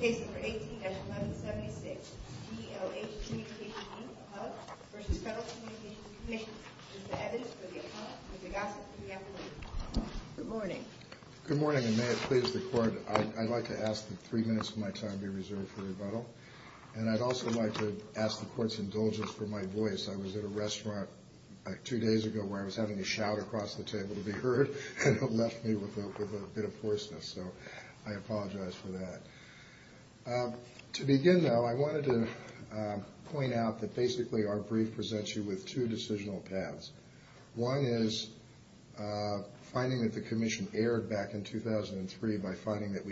Case No. 18-1176, DLH Communications, Inc. of HUD v. Federal Communications Commission, is the evidence for the account of the gossip pre-appellee. Good morning. Good morning, and may it please the Court, I'd like to ask that three minutes of my time be reserved for rebuttal. And I'd also like to ask the Court's indulgence for my voice. I was at a restaurant two days ago where I was having a shout across the table to be heard, and it left me with a bit of hoarseness. So I apologize for that. To begin, though, I wanted to point out that basically our brief presents you with two decisional paths. One is finding that the Commission erred back in 2003 by finding that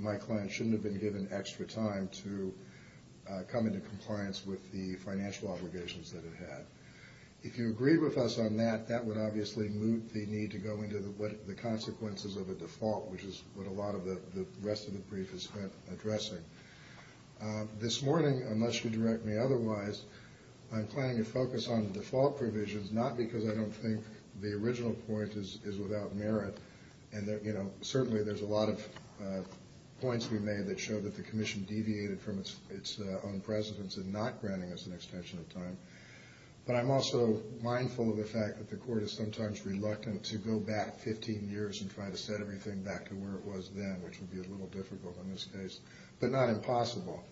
my client shouldn't have been given extra time to come into compliance with the financial obligations that it had. If you agree with us on that, that would obviously moot the need to go into the consequences of a default, which is what a lot of the rest of the brief is addressing. This morning, unless you direct me otherwise, I'm planning to focus on the default provisions, not because I don't think the original point is without merit. Certainly, there's a lot of points we made that show that the Commission deviated from its own precedence in not granting us an extension of time. But I'm also mindful of the fact that the Court is sometimes reluctant to go back 15 years and try to set everything back to where it was then, which would be a little difficult in this case, but not impossible.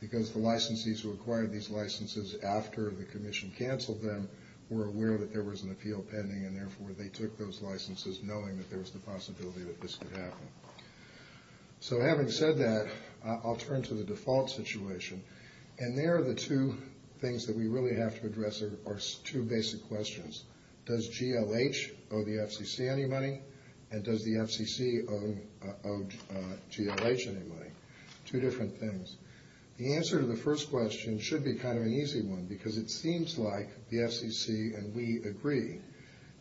Because the licensees who acquired these licenses after the Commission canceled them were aware that there was an appeal pending, and therefore they took those licenses knowing that there was the possibility that this could happen. So having said that, I'll turn to the default situation. And there are the two things that we really have to address are two basic questions. Does GLH owe the FCC any money, and does the FCC owe GLH any money? Two different things. The answer to the first question should be kind of an easy one, because it seems like the FCC and we agree.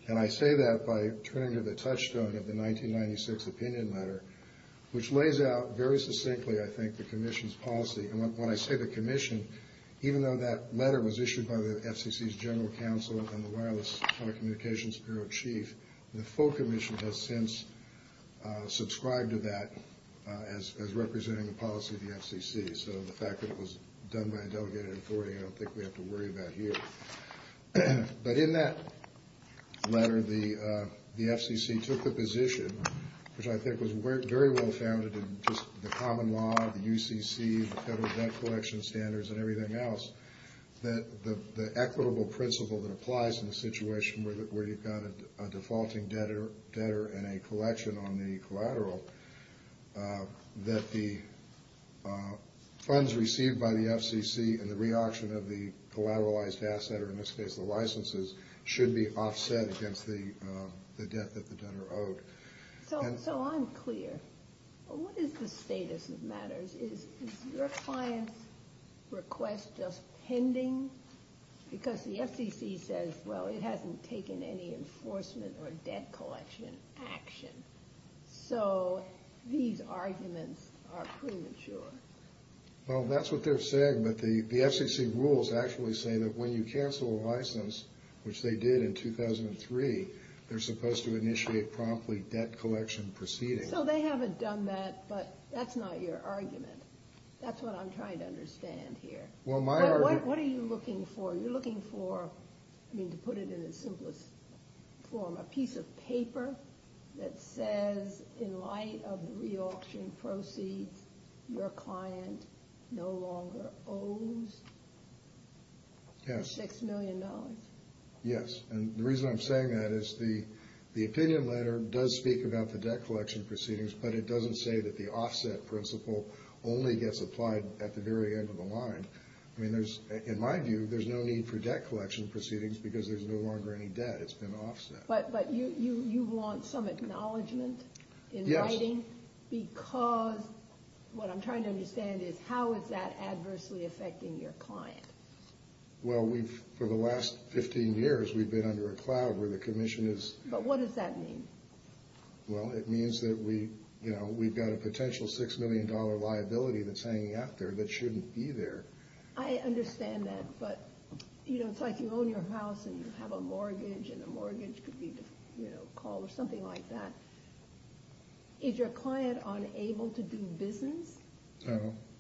And I say that by turning to the touchstone of the 1996 opinion letter, which lays out very succinctly, I think, the Commission's policy. And when I say the Commission, even though that letter was issued by the FCC's General Counsel and the Wireless Communications Bureau Chief, the full Commission has since subscribed to that as representing the policy of the FCC. So the fact that it was done by a delegated authority, I don't think we have to worry about here. But in that letter, the FCC took the position, which I think was very well founded in just the common law, the UCC, the Federal Debt Collection Standards, and everything else, that the equitable principle that applies in a situation where you've got a defaulting debtor and a collection on the collateral, that the funds received by the FCC and the reauction of the collateralized asset, or in this case the licenses, should be offset against the debt that the debtor owed. So I'm clear. What is the status of matters? Is your client's request just pending? Because the FCC says, well, it hasn't taken any enforcement or debt collection action. So these arguments are premature. Well, that's what they're saying, but the FCC rules actually say that when you cancel a license, which they did in 2003, they're supposed to initiate promptly debt collection proceedings. So they haven't done that, but that's not your argument. That's what I'm trying to understand here. What are you looking for? You're looking for, I mean, to put it in its simplest form, a piece of paper that says, in light of the reauction proceeds, your client no longer owes $6 million. Yes, and the reason I'm saying that is the opinion letter does speak about the debt collection proceedings, but it doesn't say that the offset principle only gets applied at the very end of the line. I mean, in my view, there's no need for debt collection proceedings because there's no longer any debt. It's been offset. But you want some acknowledgement in writing? Yes. Because what I'm trying to understand is how is that adversely affecting your client? Well, for the last 15 years, we've been under a cloud where the commission is- But what does that mean? Well, it means that we've got a potential $6 million liability that's hanging out there that shouldn't be there. I understand that, but it's like you own your house and you have a mortgage, and the mortgage could be called or something like that. Is your client unable to do business?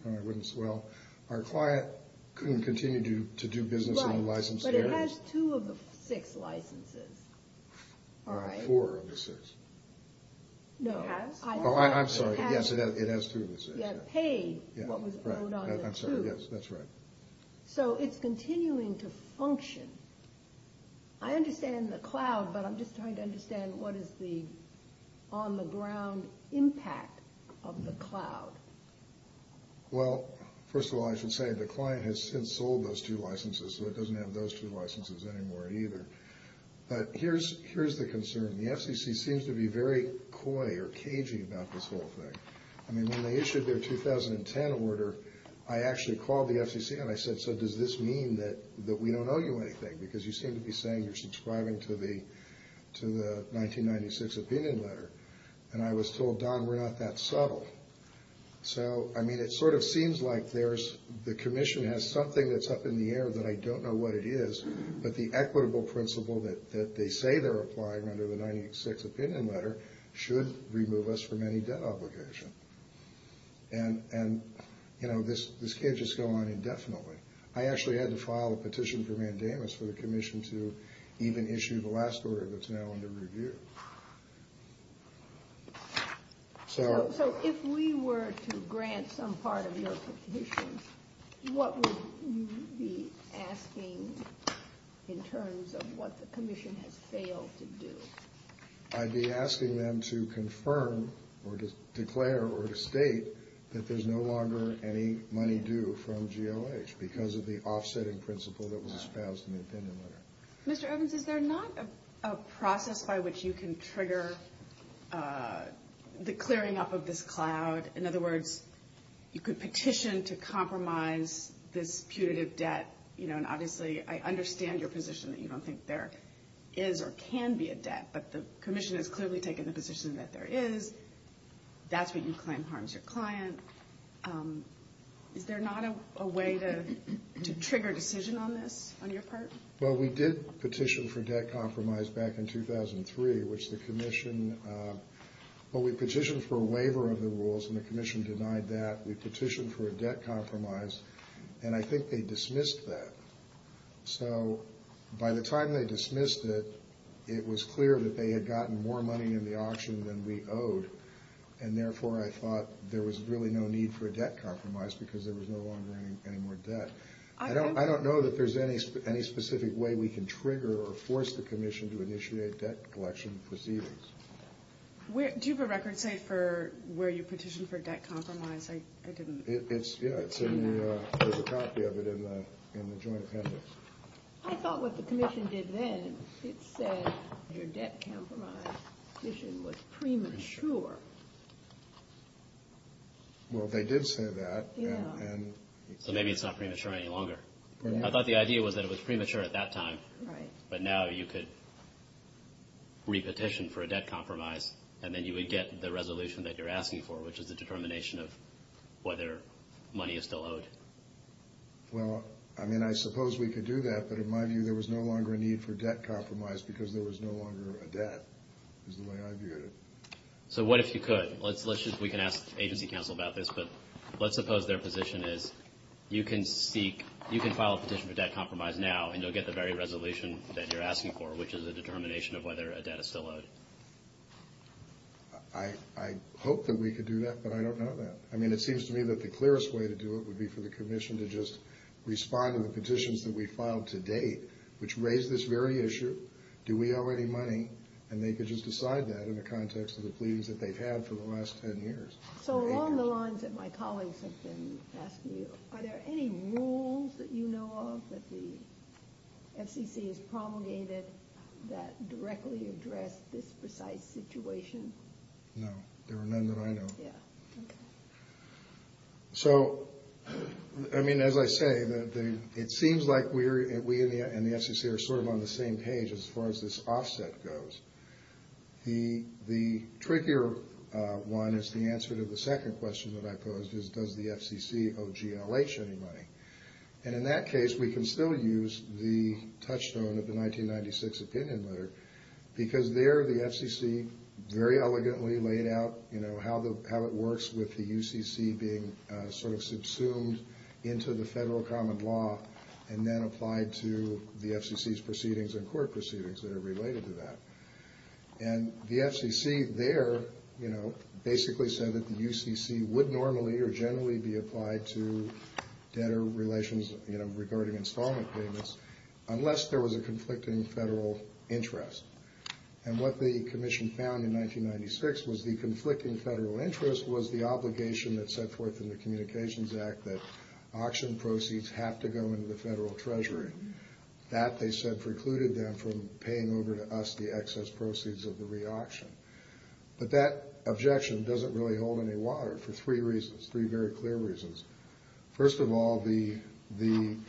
Well, our client couldn't continue to do business on licensed areas. Right, but it has two of the six licenses, right? Four of the six. No. It has? Oh, I'm sorry. Yes, it has two of the six. You have to pay what was owed on the two. I'm sorry. Yes, that's right. So it's continuing to function. I understand the cloud, but I'm just trying to understand what is the on-the-ground impact of the cloud. Well, first of all, I should say the client has since sold those two licenses, so it doesn't have those two licenses anymore either. But here's the concern. The FCC seems to be very coy or cagey about this whole thing. I mean, when they issued their 2010 order, I actually called the FCC and I said, does this mean that we don't owe you anything because you seem to be saying you're subscribing to the 1996 opinion letter. And I was told, Don, we're not that subtle. So, I mean, it sort of seems like the commission has something that's up in the air that I don't know what it is, but the equitable principle that they say they're applying under the 1996 opinion letter should remove us from any debt obligation. And, you know, this can't just go on indefinitely. I actually had to file a petition for mandamus for the commission to even issue the last order that's now under review. So if we were to grant some part of your petition, what would you be asking in terms of what the commission has failed to do? I'd be asking them to confirm or to declare or to state that there's no longer any money due from GLH because of the offsetting principle that was espoused in the opinion letter. Mr. Evans, is there not a process by which you can trigger the clearing up of this cloud? In other words, you could petition to compromise this putative debt, you know, and obviously I understand your position that you don't think there is or can be a debt, but the commission has clearly taken the position that there is. That's what you claim harms your client. Is there not a way to trigger a decision on this on your part? Well, we did petition for debt compromise back in 2003, which the commission – well, we petitioned for a waiver of the rules, and the commission denied that. We petitioned for a debt compromise, and I think they dismissed that. So by the time they dismissed it, it was clear that they had gotten more money in the auction than we owed, and therefore I thought there was really no need for a debt compromise because there was no longer any more debt. I don't know that there's any specific way we can trigger or force the commission to initiate debt collection proceedings. Do you have a record, say, for where you petitioned for debt compromise? Yeah, there's a copy of it in the joint appendix. I thought what the commission did then, it said your debt compromise petition was premature. Well, they did say that. So maybe it's not premature any longer. I thought the idea was that it was premature at that time, but now you could re-petition for a debt compromise, and then you would get the resolution that you're asking for, which is the determination of whether money is still owed. Well, I mean, I suppose we could do that, but in my view there was no longer a need for debt compromise because there was no longer a debt is the way I viewed it. So what if you could? We can ask agency counsel about this, but let's suppose their position is you can seek – and you'll get the very resolution that you're asking for, which is a determination of whether a debt is still owed. I hope that we could do that, but I don't know that. I mean, it seems to me that the clearest way to do it would be for the commission to just respond to the petitions that we filed today, which raise this very issue, do we owe any money, and they could just decide that in the context of the pleadings that they've had for the last 10 years. So along the lines that my colleagues have been asking you, are there any rules that you know of that the FCC has promulgated that directly address this precise situation? No, there are none that I know of. Yeah, okay. So, I mean, as I say, it seems like we and the FCC are sort of on the same page as far as this offset goes. The trickier one is the answer to the second question that I posed, is does the FCC owe GLH any money? And in that case, we can still use the touchstone of the 1996 opinion letter, because there the FCC very elegantly laid out how it works with the UCC being sort of subsumed into the federal common law and then applied to the FCC's proceedings and court proceedings that are related to that. And the FCC there, you know, basically said that the UCC would normally or generally be applied to debtor relations, you know, regarding installment payments, unless there was a conflicting federal interest. And what the commission found in 1996 was the conflicting federal interest was the obligation that's set forth in the Communications Act that auction proceeds have to go into the federal treasury. That, they said, precluded them from paying over to us the excess proceeds of the re-auction. But that objection doesn't really hold any water for three reasons, three very clear reasons. First of all, the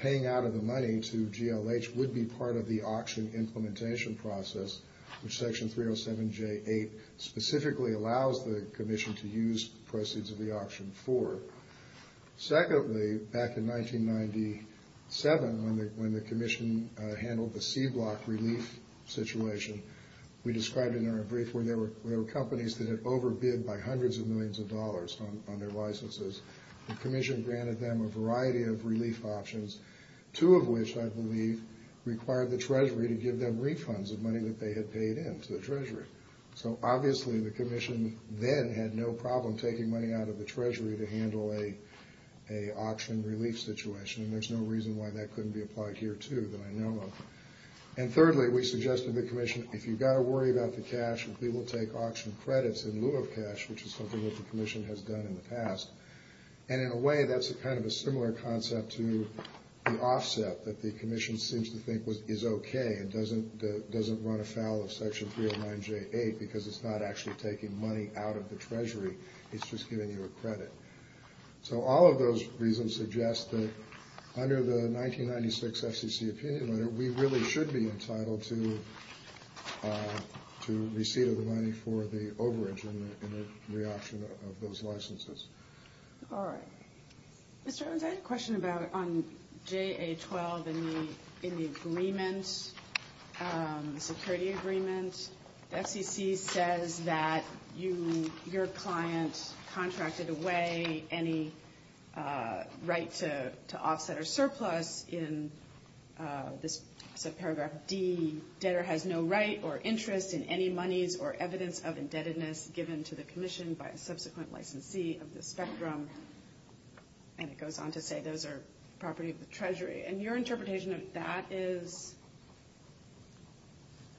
paying out of the money to GLH would be part of the auction implementation process, which Section 307J8 specifically allows the commission to use proceeds of the auction for. Secondly, back in 1997, when the commission handled the C-block relief situation, we described in our brief where there were companies that had overbid by hundreds of millions of dollars on their licenses. The commission granted them a variety of relief options, two of which, I believe, required the treasury to give them refunds of money that they had paid in to the treasury. So, obviously, the commission then had no problem taking money out of the treasury to handle an auction relief situation, and there's no reason why that couldn't be applied here, too, that I know of. And thirdly, we suggested to the commission, if you've got to worry about the cash, we will take auction credits in lieu of cash, which is something that the commission has done in the past. And in a way, that's kind of a similar concept to the offset that the commission seems to think is okay and doesn't run afoul of Section 309J8 because it's not actually taking money out of the treasury. It's just giving you a credit. So all of those reasons suggest that under the 1996 FCC opinion letter, we really should be entitled to receipt of the money for the overage in the reoption of those licenses. All right. Mr. Owens, I had a question about on JA-12 in the agreement, the security agreement. The FCC says that your client contracted away any right to offset or surplus in this paragraph D. Debtor has no right or interest in any monies or evidence of indebtedness given to the commission by a subsequent licensee of the spectrum. And it goes on to say those are property of the treasury. And your interpretation of that is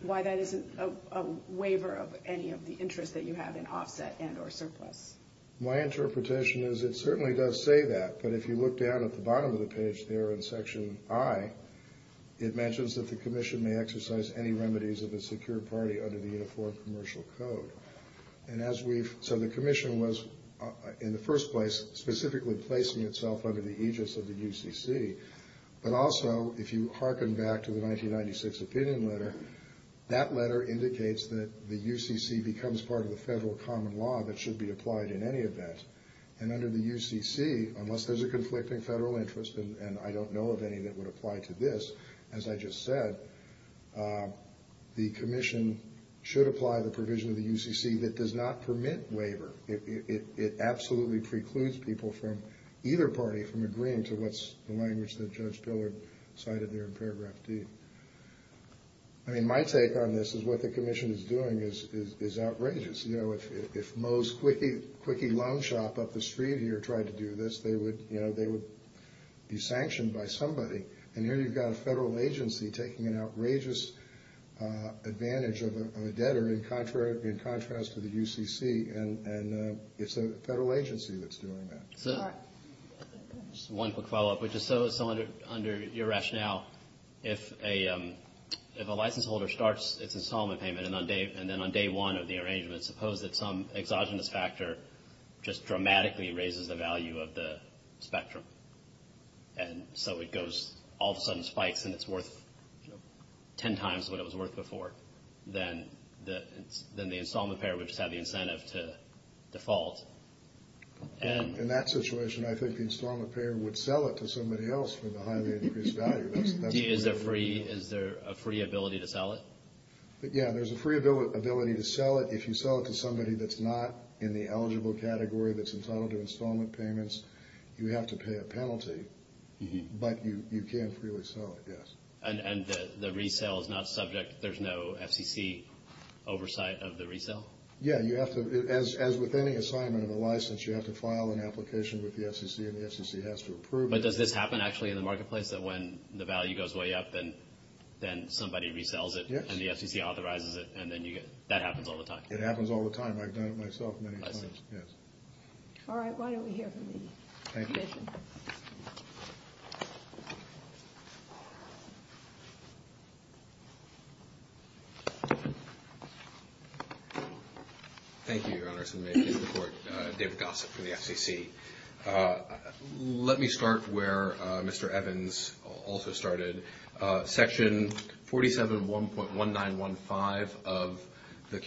why that isn't a waiver of any of the interest that you have in offset and or surplus. My interpretation is it certainly does say that, but if you look down at the bottom of the page there in Section I, it mentions that the commission may exercise any remedies of a secure party under the Uniform Commercial Code. So the commission was, in the first place, specifically placing itself under the aegis of the UCC. But also, if you hearken back to the 1996 opinion letter, that letter indicates that the UCC becomes part of the federal common law that should be applied in any event. And under the UCC, unless there's a conflicting federal interest, and I don't know of any that would apply to this, as I just said, the commission should apply the provision of the UCC that does not permit waiver. It absolutely precludes people from either party from agreeing to what's the language that Judge Pillard cited there in Paragraph D. I mean, my take on this is what the commission is doing is outrageous. You know, if Moe's Quickie Loan Shop up the street here tried to do this, they would be sanctioned by somebody. And here you've got a federal agency taking an outrageous advantage of a debtor in contrast to the UCC, and it's a federal agency that's doing that. So just one quick follow-up. So under your rationale, if a license holder starts its installment payment, and then on day one of the arrangement, suppose that some exogenous factor just dramatically raises the value of the spectrum. And so it goes, all of a sudden spikes, and it's worth 10 times what it was worth before, then the installment payer would just have the incentive to default. In that situation, I think the installment payer would sell it to somebody else for the highly increased value. Is there a free ability to sell it? Yeah, there's a free ability to sell it. If you sell it to somebody that's not in the eligible category that's entitled to installment payments, you have to pay a penalty, but you can freely sell it, yes. And the resale is not subject, there's no FCC oversight of the resale? Yeah, you have to, as with any assignment of a license, you have to file an application with the FCC, and the FCC has to approve it. But does this happen actually in the marketplace, that when the value goes way up, then somebody resells it and the FCC authorizes it, and then that happens all the time? It happens all the time. I've done it myself many times, yes. All right, why don't we hear from David? Thank you. Thank you, Your Honors, and may it please the Court. David Gossett from the FCC. Let me start where Mr. Evans also started. Section 47.1915 of the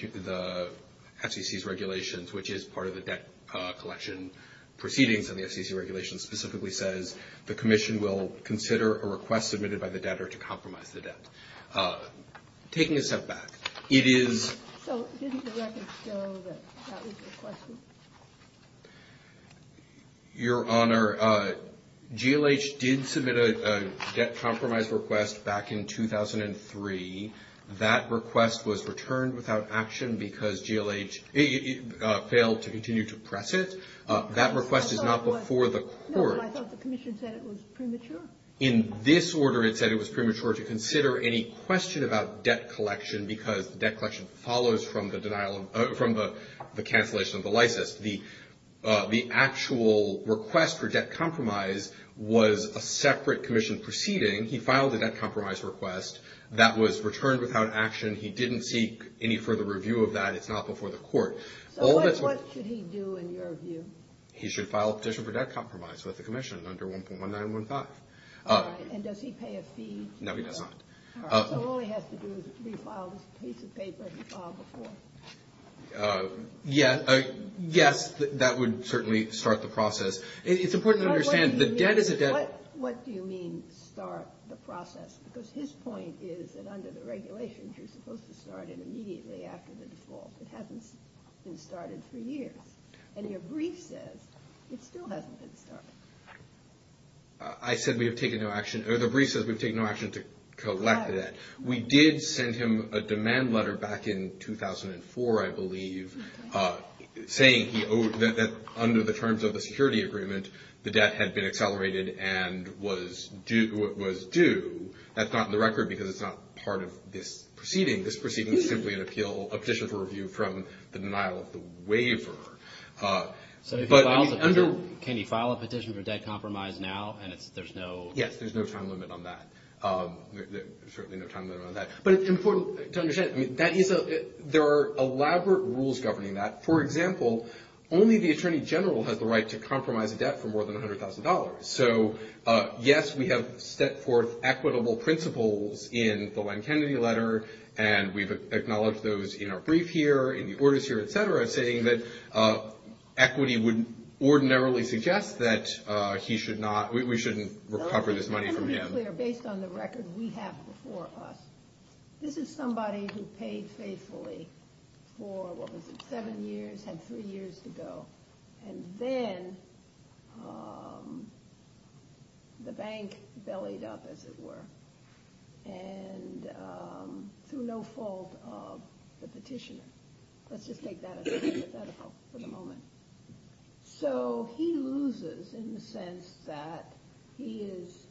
FCC's regulations, which is part of the debt collection proceedings in the FCC regulations, specifically says the commission will consider a request submitted by the debtor to compromise the debt. Taking a step back, it is. So didn't the record show that that was requested? Your Honor, GLH did submit a debt compromise request back in 2003. That request was returned without action because GLH failed to continue to press it. That request is not before the Court. No, but I thought the commission said it was premature. In this order, it said it was premature to consider any question about debt collection because debt collection follows from the cancellation of the license. The actual request for debt compromise was a separate commission proceeding. He filed a debt compromise request that was returned without action. He didn't seek any further review of that. It's not before the Court. So what should he do, in your view? He should file a petition for debt compromise with the commission under 1.1915. All right. And does he pay a fee? No, he does not. All right. So all he has to do is refile this piece of paper he filed before. Yes, that would certainly start the process. It's important to understand the debt is a debt. What do you mean, start the process? Because his point is that under the regulations, you're supposed to start it immediately after the default. It hasn't been started for years. And your brief says it still hasn't been started. I said we have taken no action. The brief says we've taken no action to collect the debt. We did send him a demand letter back in 2004, I believe, saying that under the terms of the security agreement, the debt had been accelerated and was due. That's not in the record because it's not part of this proceeding. This proceeding is simply an appeal, a petition for review from the denial of the waiver. So if he files it, can he file a petition for debt compromise now and there's no? Yes, there's no time limit on that. There's certainly no time limit on that. But it's important to understand there are elaborate rules governing that. For example, only the attorney general has the right to compromise a debt for more than $100,000. So, yes, we have set forth equitable principles in the Len Kennedy letter, and we've acknowledged those in our brief here, in the orders here, et cetera, saying that equity would ordinarily suggest that he should not, we shouldn't recover this money from him. Let me be clear. Based on the record we have before us, this is somebody who paid faithfully for, what was it, seven years, had three years to go. And then the bank bellied up, as it were, and through no fault of the petitioner. Let's just take that as a hypothetical for the moment. So he loses in the sense that he is,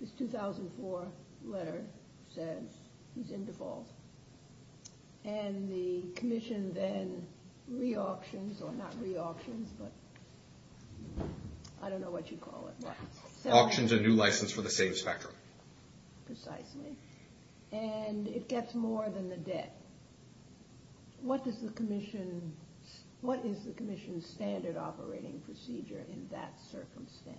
his 2004 letter says he's in default. And the commission then re-auctions, or not re-auctions, but I don't know what you call it. Auctions a new license for the same spectrum. Precisely. And it gets more than the debt. What is the commission's standard operating procedure in that circumstance?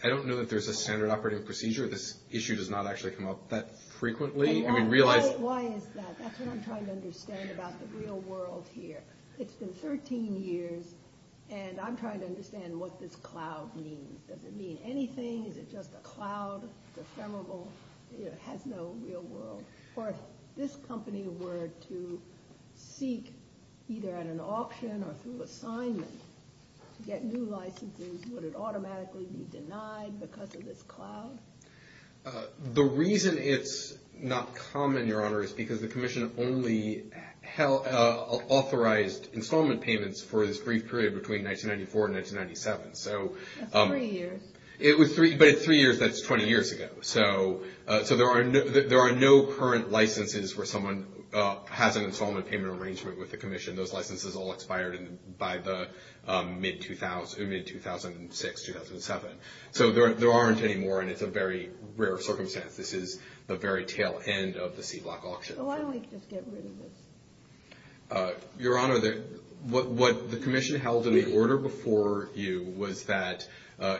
I don't know that there's a standard operating procedure. This issue does not actually come up that frequently. Why is that? That's what I'm trying to understand about the real world here. It's been 13 years, and I'm trying to understand what this cloud means. Does it mean anything? Is it just a cloud? It's ephemeral. It has no real world. Or if this company were to seek either at an auction or through assignment to get new licenses, would it automatically be denied because of this cloud? The reason it's not common, Your Honor, is because the commission only authorized installment payments for this brief period between 1994 and 1997. That's three years. But in three years, that's 20 years ago. So there are no current licenses where someone has an installment payment arrangement with the commission. Those licenses all expired by the mid-2006, 2007. So there aren't any more, and it's a very rare circumstance. This is the very tail end of the C-block auction. So why don't we just get rid of this? Your Honor, what the commission held in the order before you was that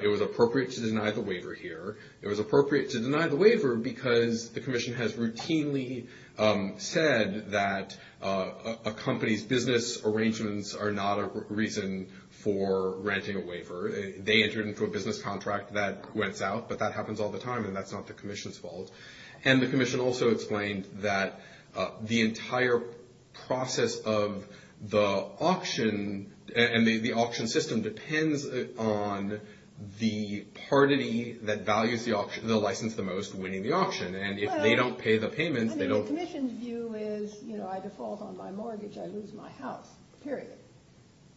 it was appropriate to deny the waiver here. It was appropriate to deny the waiver because the commission has routinely said that a company's business arrangements are not a reason for renting a waiver. They entered into a business contract that went south, but that happens all the time, and that's not the commission's fault. And the commission also explained that the entire process of the auction and the auction system depends on the party that values the license the most winning the auction. And if they don't pay the payments, they don't. The commission's view is, you know, I default on my mortgage, I lose my house, period.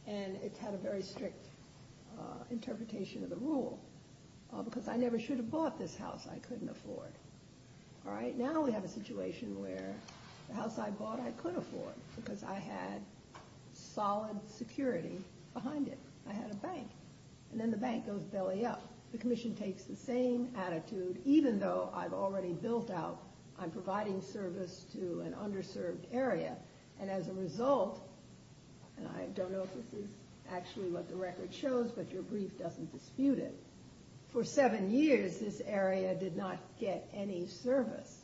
And it's had a very strict interpretation of the rule because I never should have bought this house I couldn't afford. All right? Now we have a situation where the house I bought I could afford because I had solid security behind it. I had a bank. And then the bank goes belly up. The commission takes the same attitude, even though I've already built out I'm providing service to an underserved area. And as a result, and I don't know if this is actually what the record shows, but your brief doesn't dispute it. For seven years, this area did not get any service,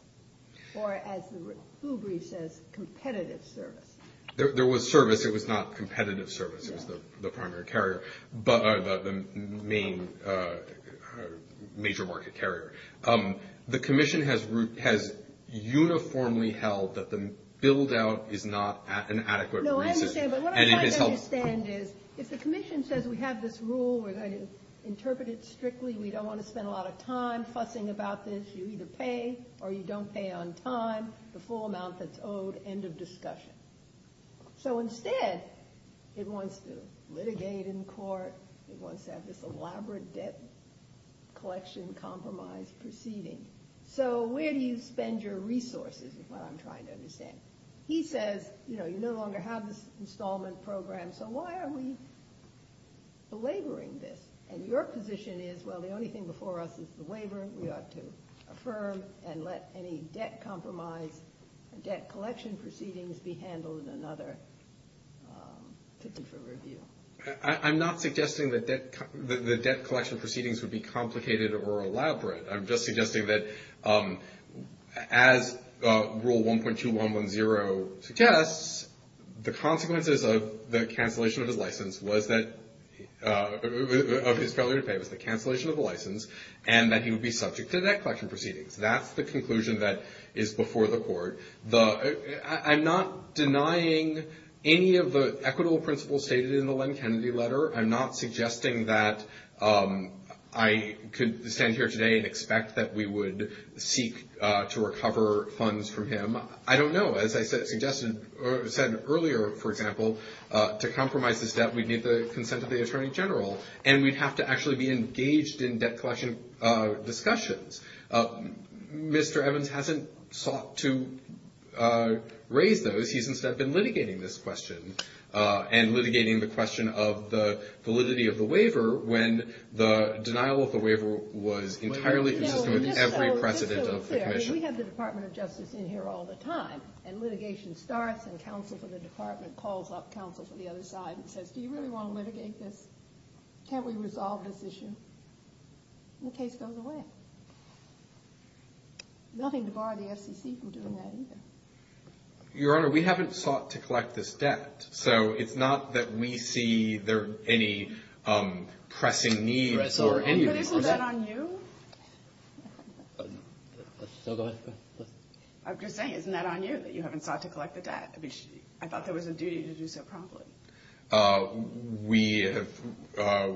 or as the full brief says, competitive service. There was service. It was not competitive service. It was the primary carrier, the main major market carrier. The commission has uniformly held that the build-out is not an adequate reason. No, I understand. But what I'm trying to understand is if the commission says we have this rule, we're going to interpret it strictly, we don't want to spend a lot of time fussing about this, you either pay or you don't pay on time, the full amount that's owed, end of discussion. So instead, it wants to litigate in court. It wants to have this elaborate debt collection compromise proceeding. So where do you spend your resources is what I'm trying to understand. He says, you know, you no longer have this installment program, so why are we belaboring this? And your position is, well, the only thing before us is the waiver. We ought to affirm and let any debt compromise, debt collection proceedings be handled in another ticket for review. I'm not suggesting that the debt collection proceedings would be complicated or elaborate. I'm just suggesting that as Rule 1.2110 suggests, the consequences of the cancellation of his license was that of his failure to pay was the cancellation of the license and that he would be subject to debt collection proceedings. That's the conclusion that is before the court. I'm not denying any of the equitable principles stated in the Len Kennedy letter. I'm not suggesting that I could stand here today and expect that we would seek to recover funds from him. I don't know. As I said earlier, for example, to compromise this debt, we'd need the consent of the Attorney General, and we'd have to actually be engaged in debt collection discussions. Mr. Evans hasn't sought to raise those. He's instead been litigating this question and litigating the question of the validity of the waiver when the denial of the waiver was entirely consistent with every precedent of the commission. We have the Department of Justice in here all the time, and litigation starts, and counsel for the department calls up counsel for the other side and says, do you really want to litigate this? Can't we resolve this issue? The case goes away. Nothing to bar the FCC from doing that either. Your Honor, we haven't sought to collect this debt, so it's not that we see there any pressing need for any more debt. But isn't that on you? I'm just saying, isn't that on you that you haven't sought to collect the debt? I thought there was a duty to do so promptly. We have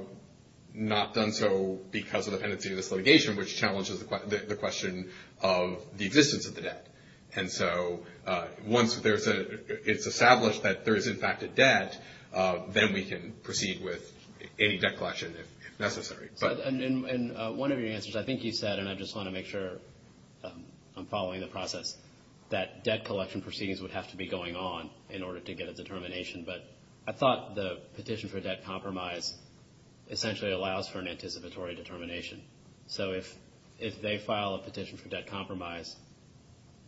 not done so because of the pendency of this litigation, which challenges the question of the existence of the debt. And so once it's established that there is, in fact, a debt, then we can proceed with any debt collection if necessary. And one of your answers, I think you said, and I just want to make sure I'm following the process, that debt collection proceedings would have to be going on in order to get a determination. But I thought the petition for debt compromise essentially allows for an anticipatory determination. So if they file a petition for debt compromise,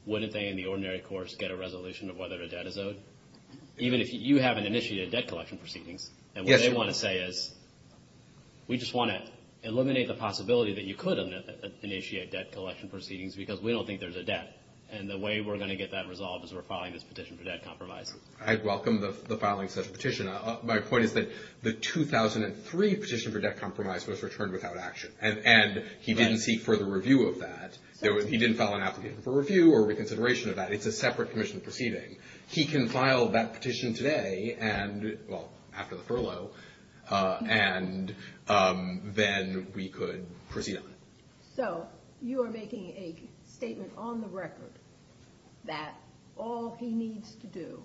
wouldn't they in the ordinary course get a resolution of whether a debt is owed? Even if you haven't initiated debt collection proceedings. And what they want to say is, we just want to eliminate the possibility that you could initiate debt collection proceedings because we don't think there's a debt. And the way we're going to get that resolved is we're filing this petition for debt compromise. I welcome the filing such a petition. My point is that the 2003 petition for debt compromise was returned without action. And he didn't seek further review of that. He didn't file an application for review or reconsideration of that. It's a separate commission proceeding. He can file that petition today and, well, after the furlough, and then we could proceed on it. So you are making a statement on the record that all he needs to do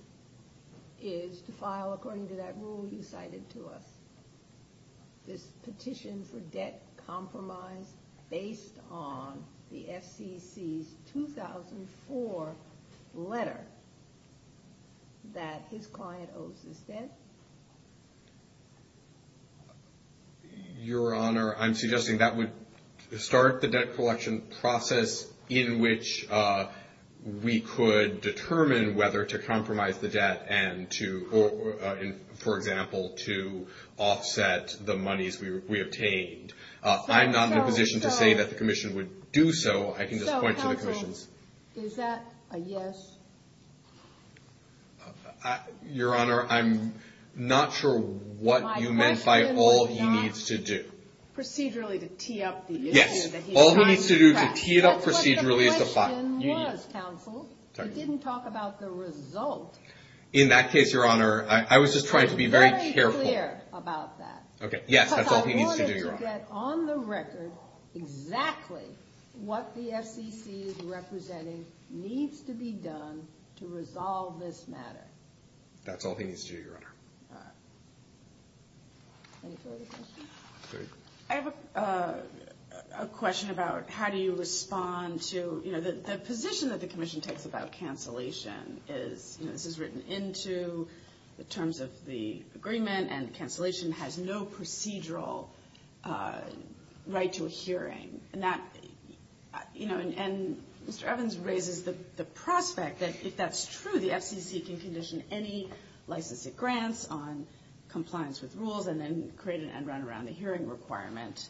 is to file, according to that rule you cited to us, this petition for debt compromise based on the FCC's 2004 letter that his client owes his debt? Your Honor, I'm suggesting that would start the debt collection process in which we could determine whether to compromise the debt and to, for example, to offset the monies we obtained. I'm not in a position to say that the commission would do so. I can just point to the commissions. So, counsel, is that a yes? Your Honor, I'm not sure what you meant by all he needs to do. My question was not procedurally to tee up the issue that he's trying to track. Yes, all he needs to do to tee it up procedurally is to file. That's what the question was, counsel. It didn't talk about the result. In that case, Your Honor, I was just trying to be very careful. I'm very clear about that. Okay, yes, that's all he needs to do, Your Honor. To get on the record exactly what the FCC is representing needs to be done to resolve this matter. That's all he needs to do, Your Honor. All right. Any further questions? I have a question about how do you respond to, you know, the position that the commission takes about cancellation is, you know, this is written into the terms of the agreement and cancellation has no procedural right to a hearing. And that, you know, and Mr. Evans raises the prospect that if that's true, the FCC can condition any license it grants on compliance with rules and then create an end round around the hearing requirement.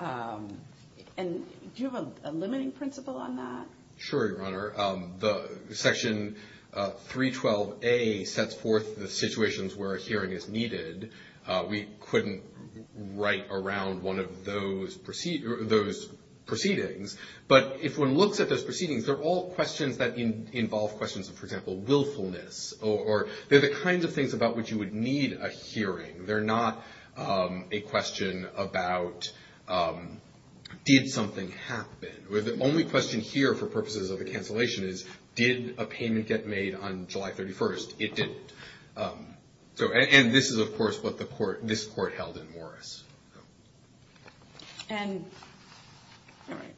And do you have a limiting principle on that? Sure, Your Honor. Section 312A sets forth the situations where a hearing is needed. We couldn't write around one of those proceedings. But if one looks at those proceedings, they're all questions that involve questions of, for example, willfulness. Or they're the kinds of things about which you would need a hearing. They're not a question about did something happen. The only question here for purposes of the cancellation is, did a payment get made on July 31st? It didn't. And this is, of course, what this court held in Morris. All right.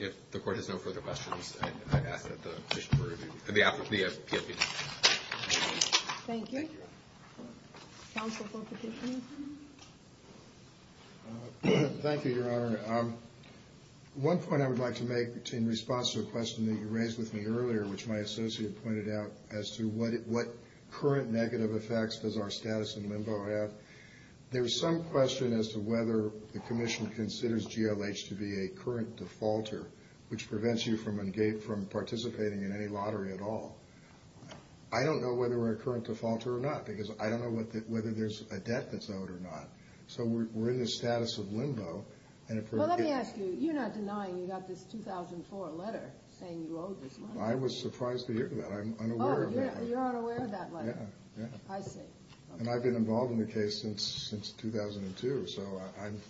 If the court has no further questions, I ask that the petition be reviewed. Thank you. Counsel for petitioning? Thank you, Your Honor. One point I would like to make in response to a question that you raised with me earlier, which my associate pointed out, as to what current negative effects does our status in LIMBO have. There's some question as to whether the commission considers GLH to be a current defaulter, which prevents you from participating in any lottery at all. I don't know whether we're a current defaulter or not, because I don't know whether there's a debt that's owed or not. So we're in the status of LIMBO. Well, let me ask you. You're not denying you got this 2004 letter saying you owed this money? I was surprised to hear that. I'm unaware of that. Oh, you're unaware of that letter? Yeah, yeah. I see. And I've been involved in the case since 2002, so I'm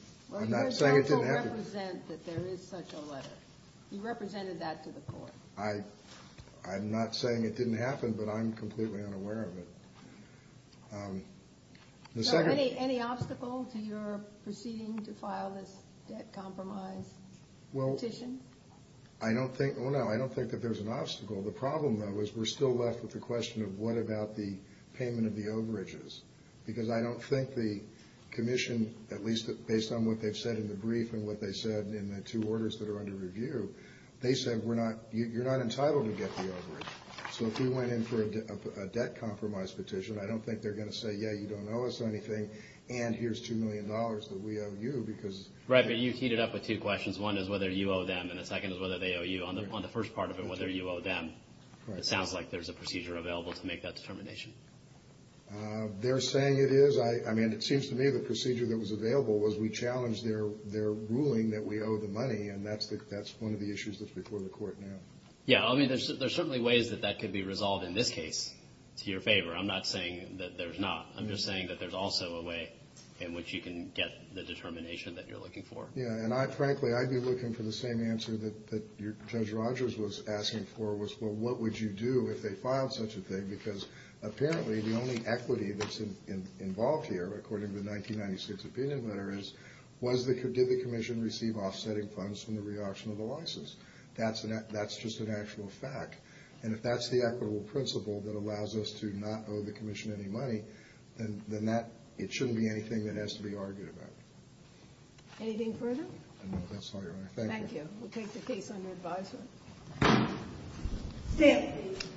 not saying it didn't happen. Well, you also represent that there is such a letter. You represented that to the court. I'm not saying it didn't happen, but I'm completely unaware of it. Any obstacle to your proceeding to file this debt compromise petition? I don't think that there's an obstacle. The problem, though, is we're still left with the question of what about the payment of the overages, because I don't think the commission, at least based on what they've said in the brief and what they said in the two orders that are under review, they said you're not entitled to get the overage. So if we went in for a debt compromise petition, I don't think they're going to say, yeah, you don't owe us anything, and here's $2 million that we owe you. Right, but you heated up with two questions. One is whether you owe them, and the second is whether they owe you. On the first part of it, whether you owe them, it sounds like there's a procedure available to make that determination. They're saying it is. I mean, it seems to me the procedure that was available was we challenged their ruling that we owe the money, and that's one of the issues that's before the court now. Yeah, I mean, there's certainly ways that that could be resolved in this case to your favor. I'm not saying that there's not. I'm just saying that there's also a way in which you can get the determination that you're looking for. Yeah, and frankly, I'd be looking for the same answer that Judge Rogers was asking for, was, well, what would you do if they filed such a thing? Because apparently the only equity that's involved here, according to the 1996 opinion letter, is did the commission receive offsetting funds from the reauction of the license? That's just an actual fact. And if that's the equitable principle that allows us to not owe the commission any money, then it shouldn't be anything that has to be argued about. Anything further? No, that's all, Your Honor. Thank you. Thank you. We'll take the case under advisory. Stand.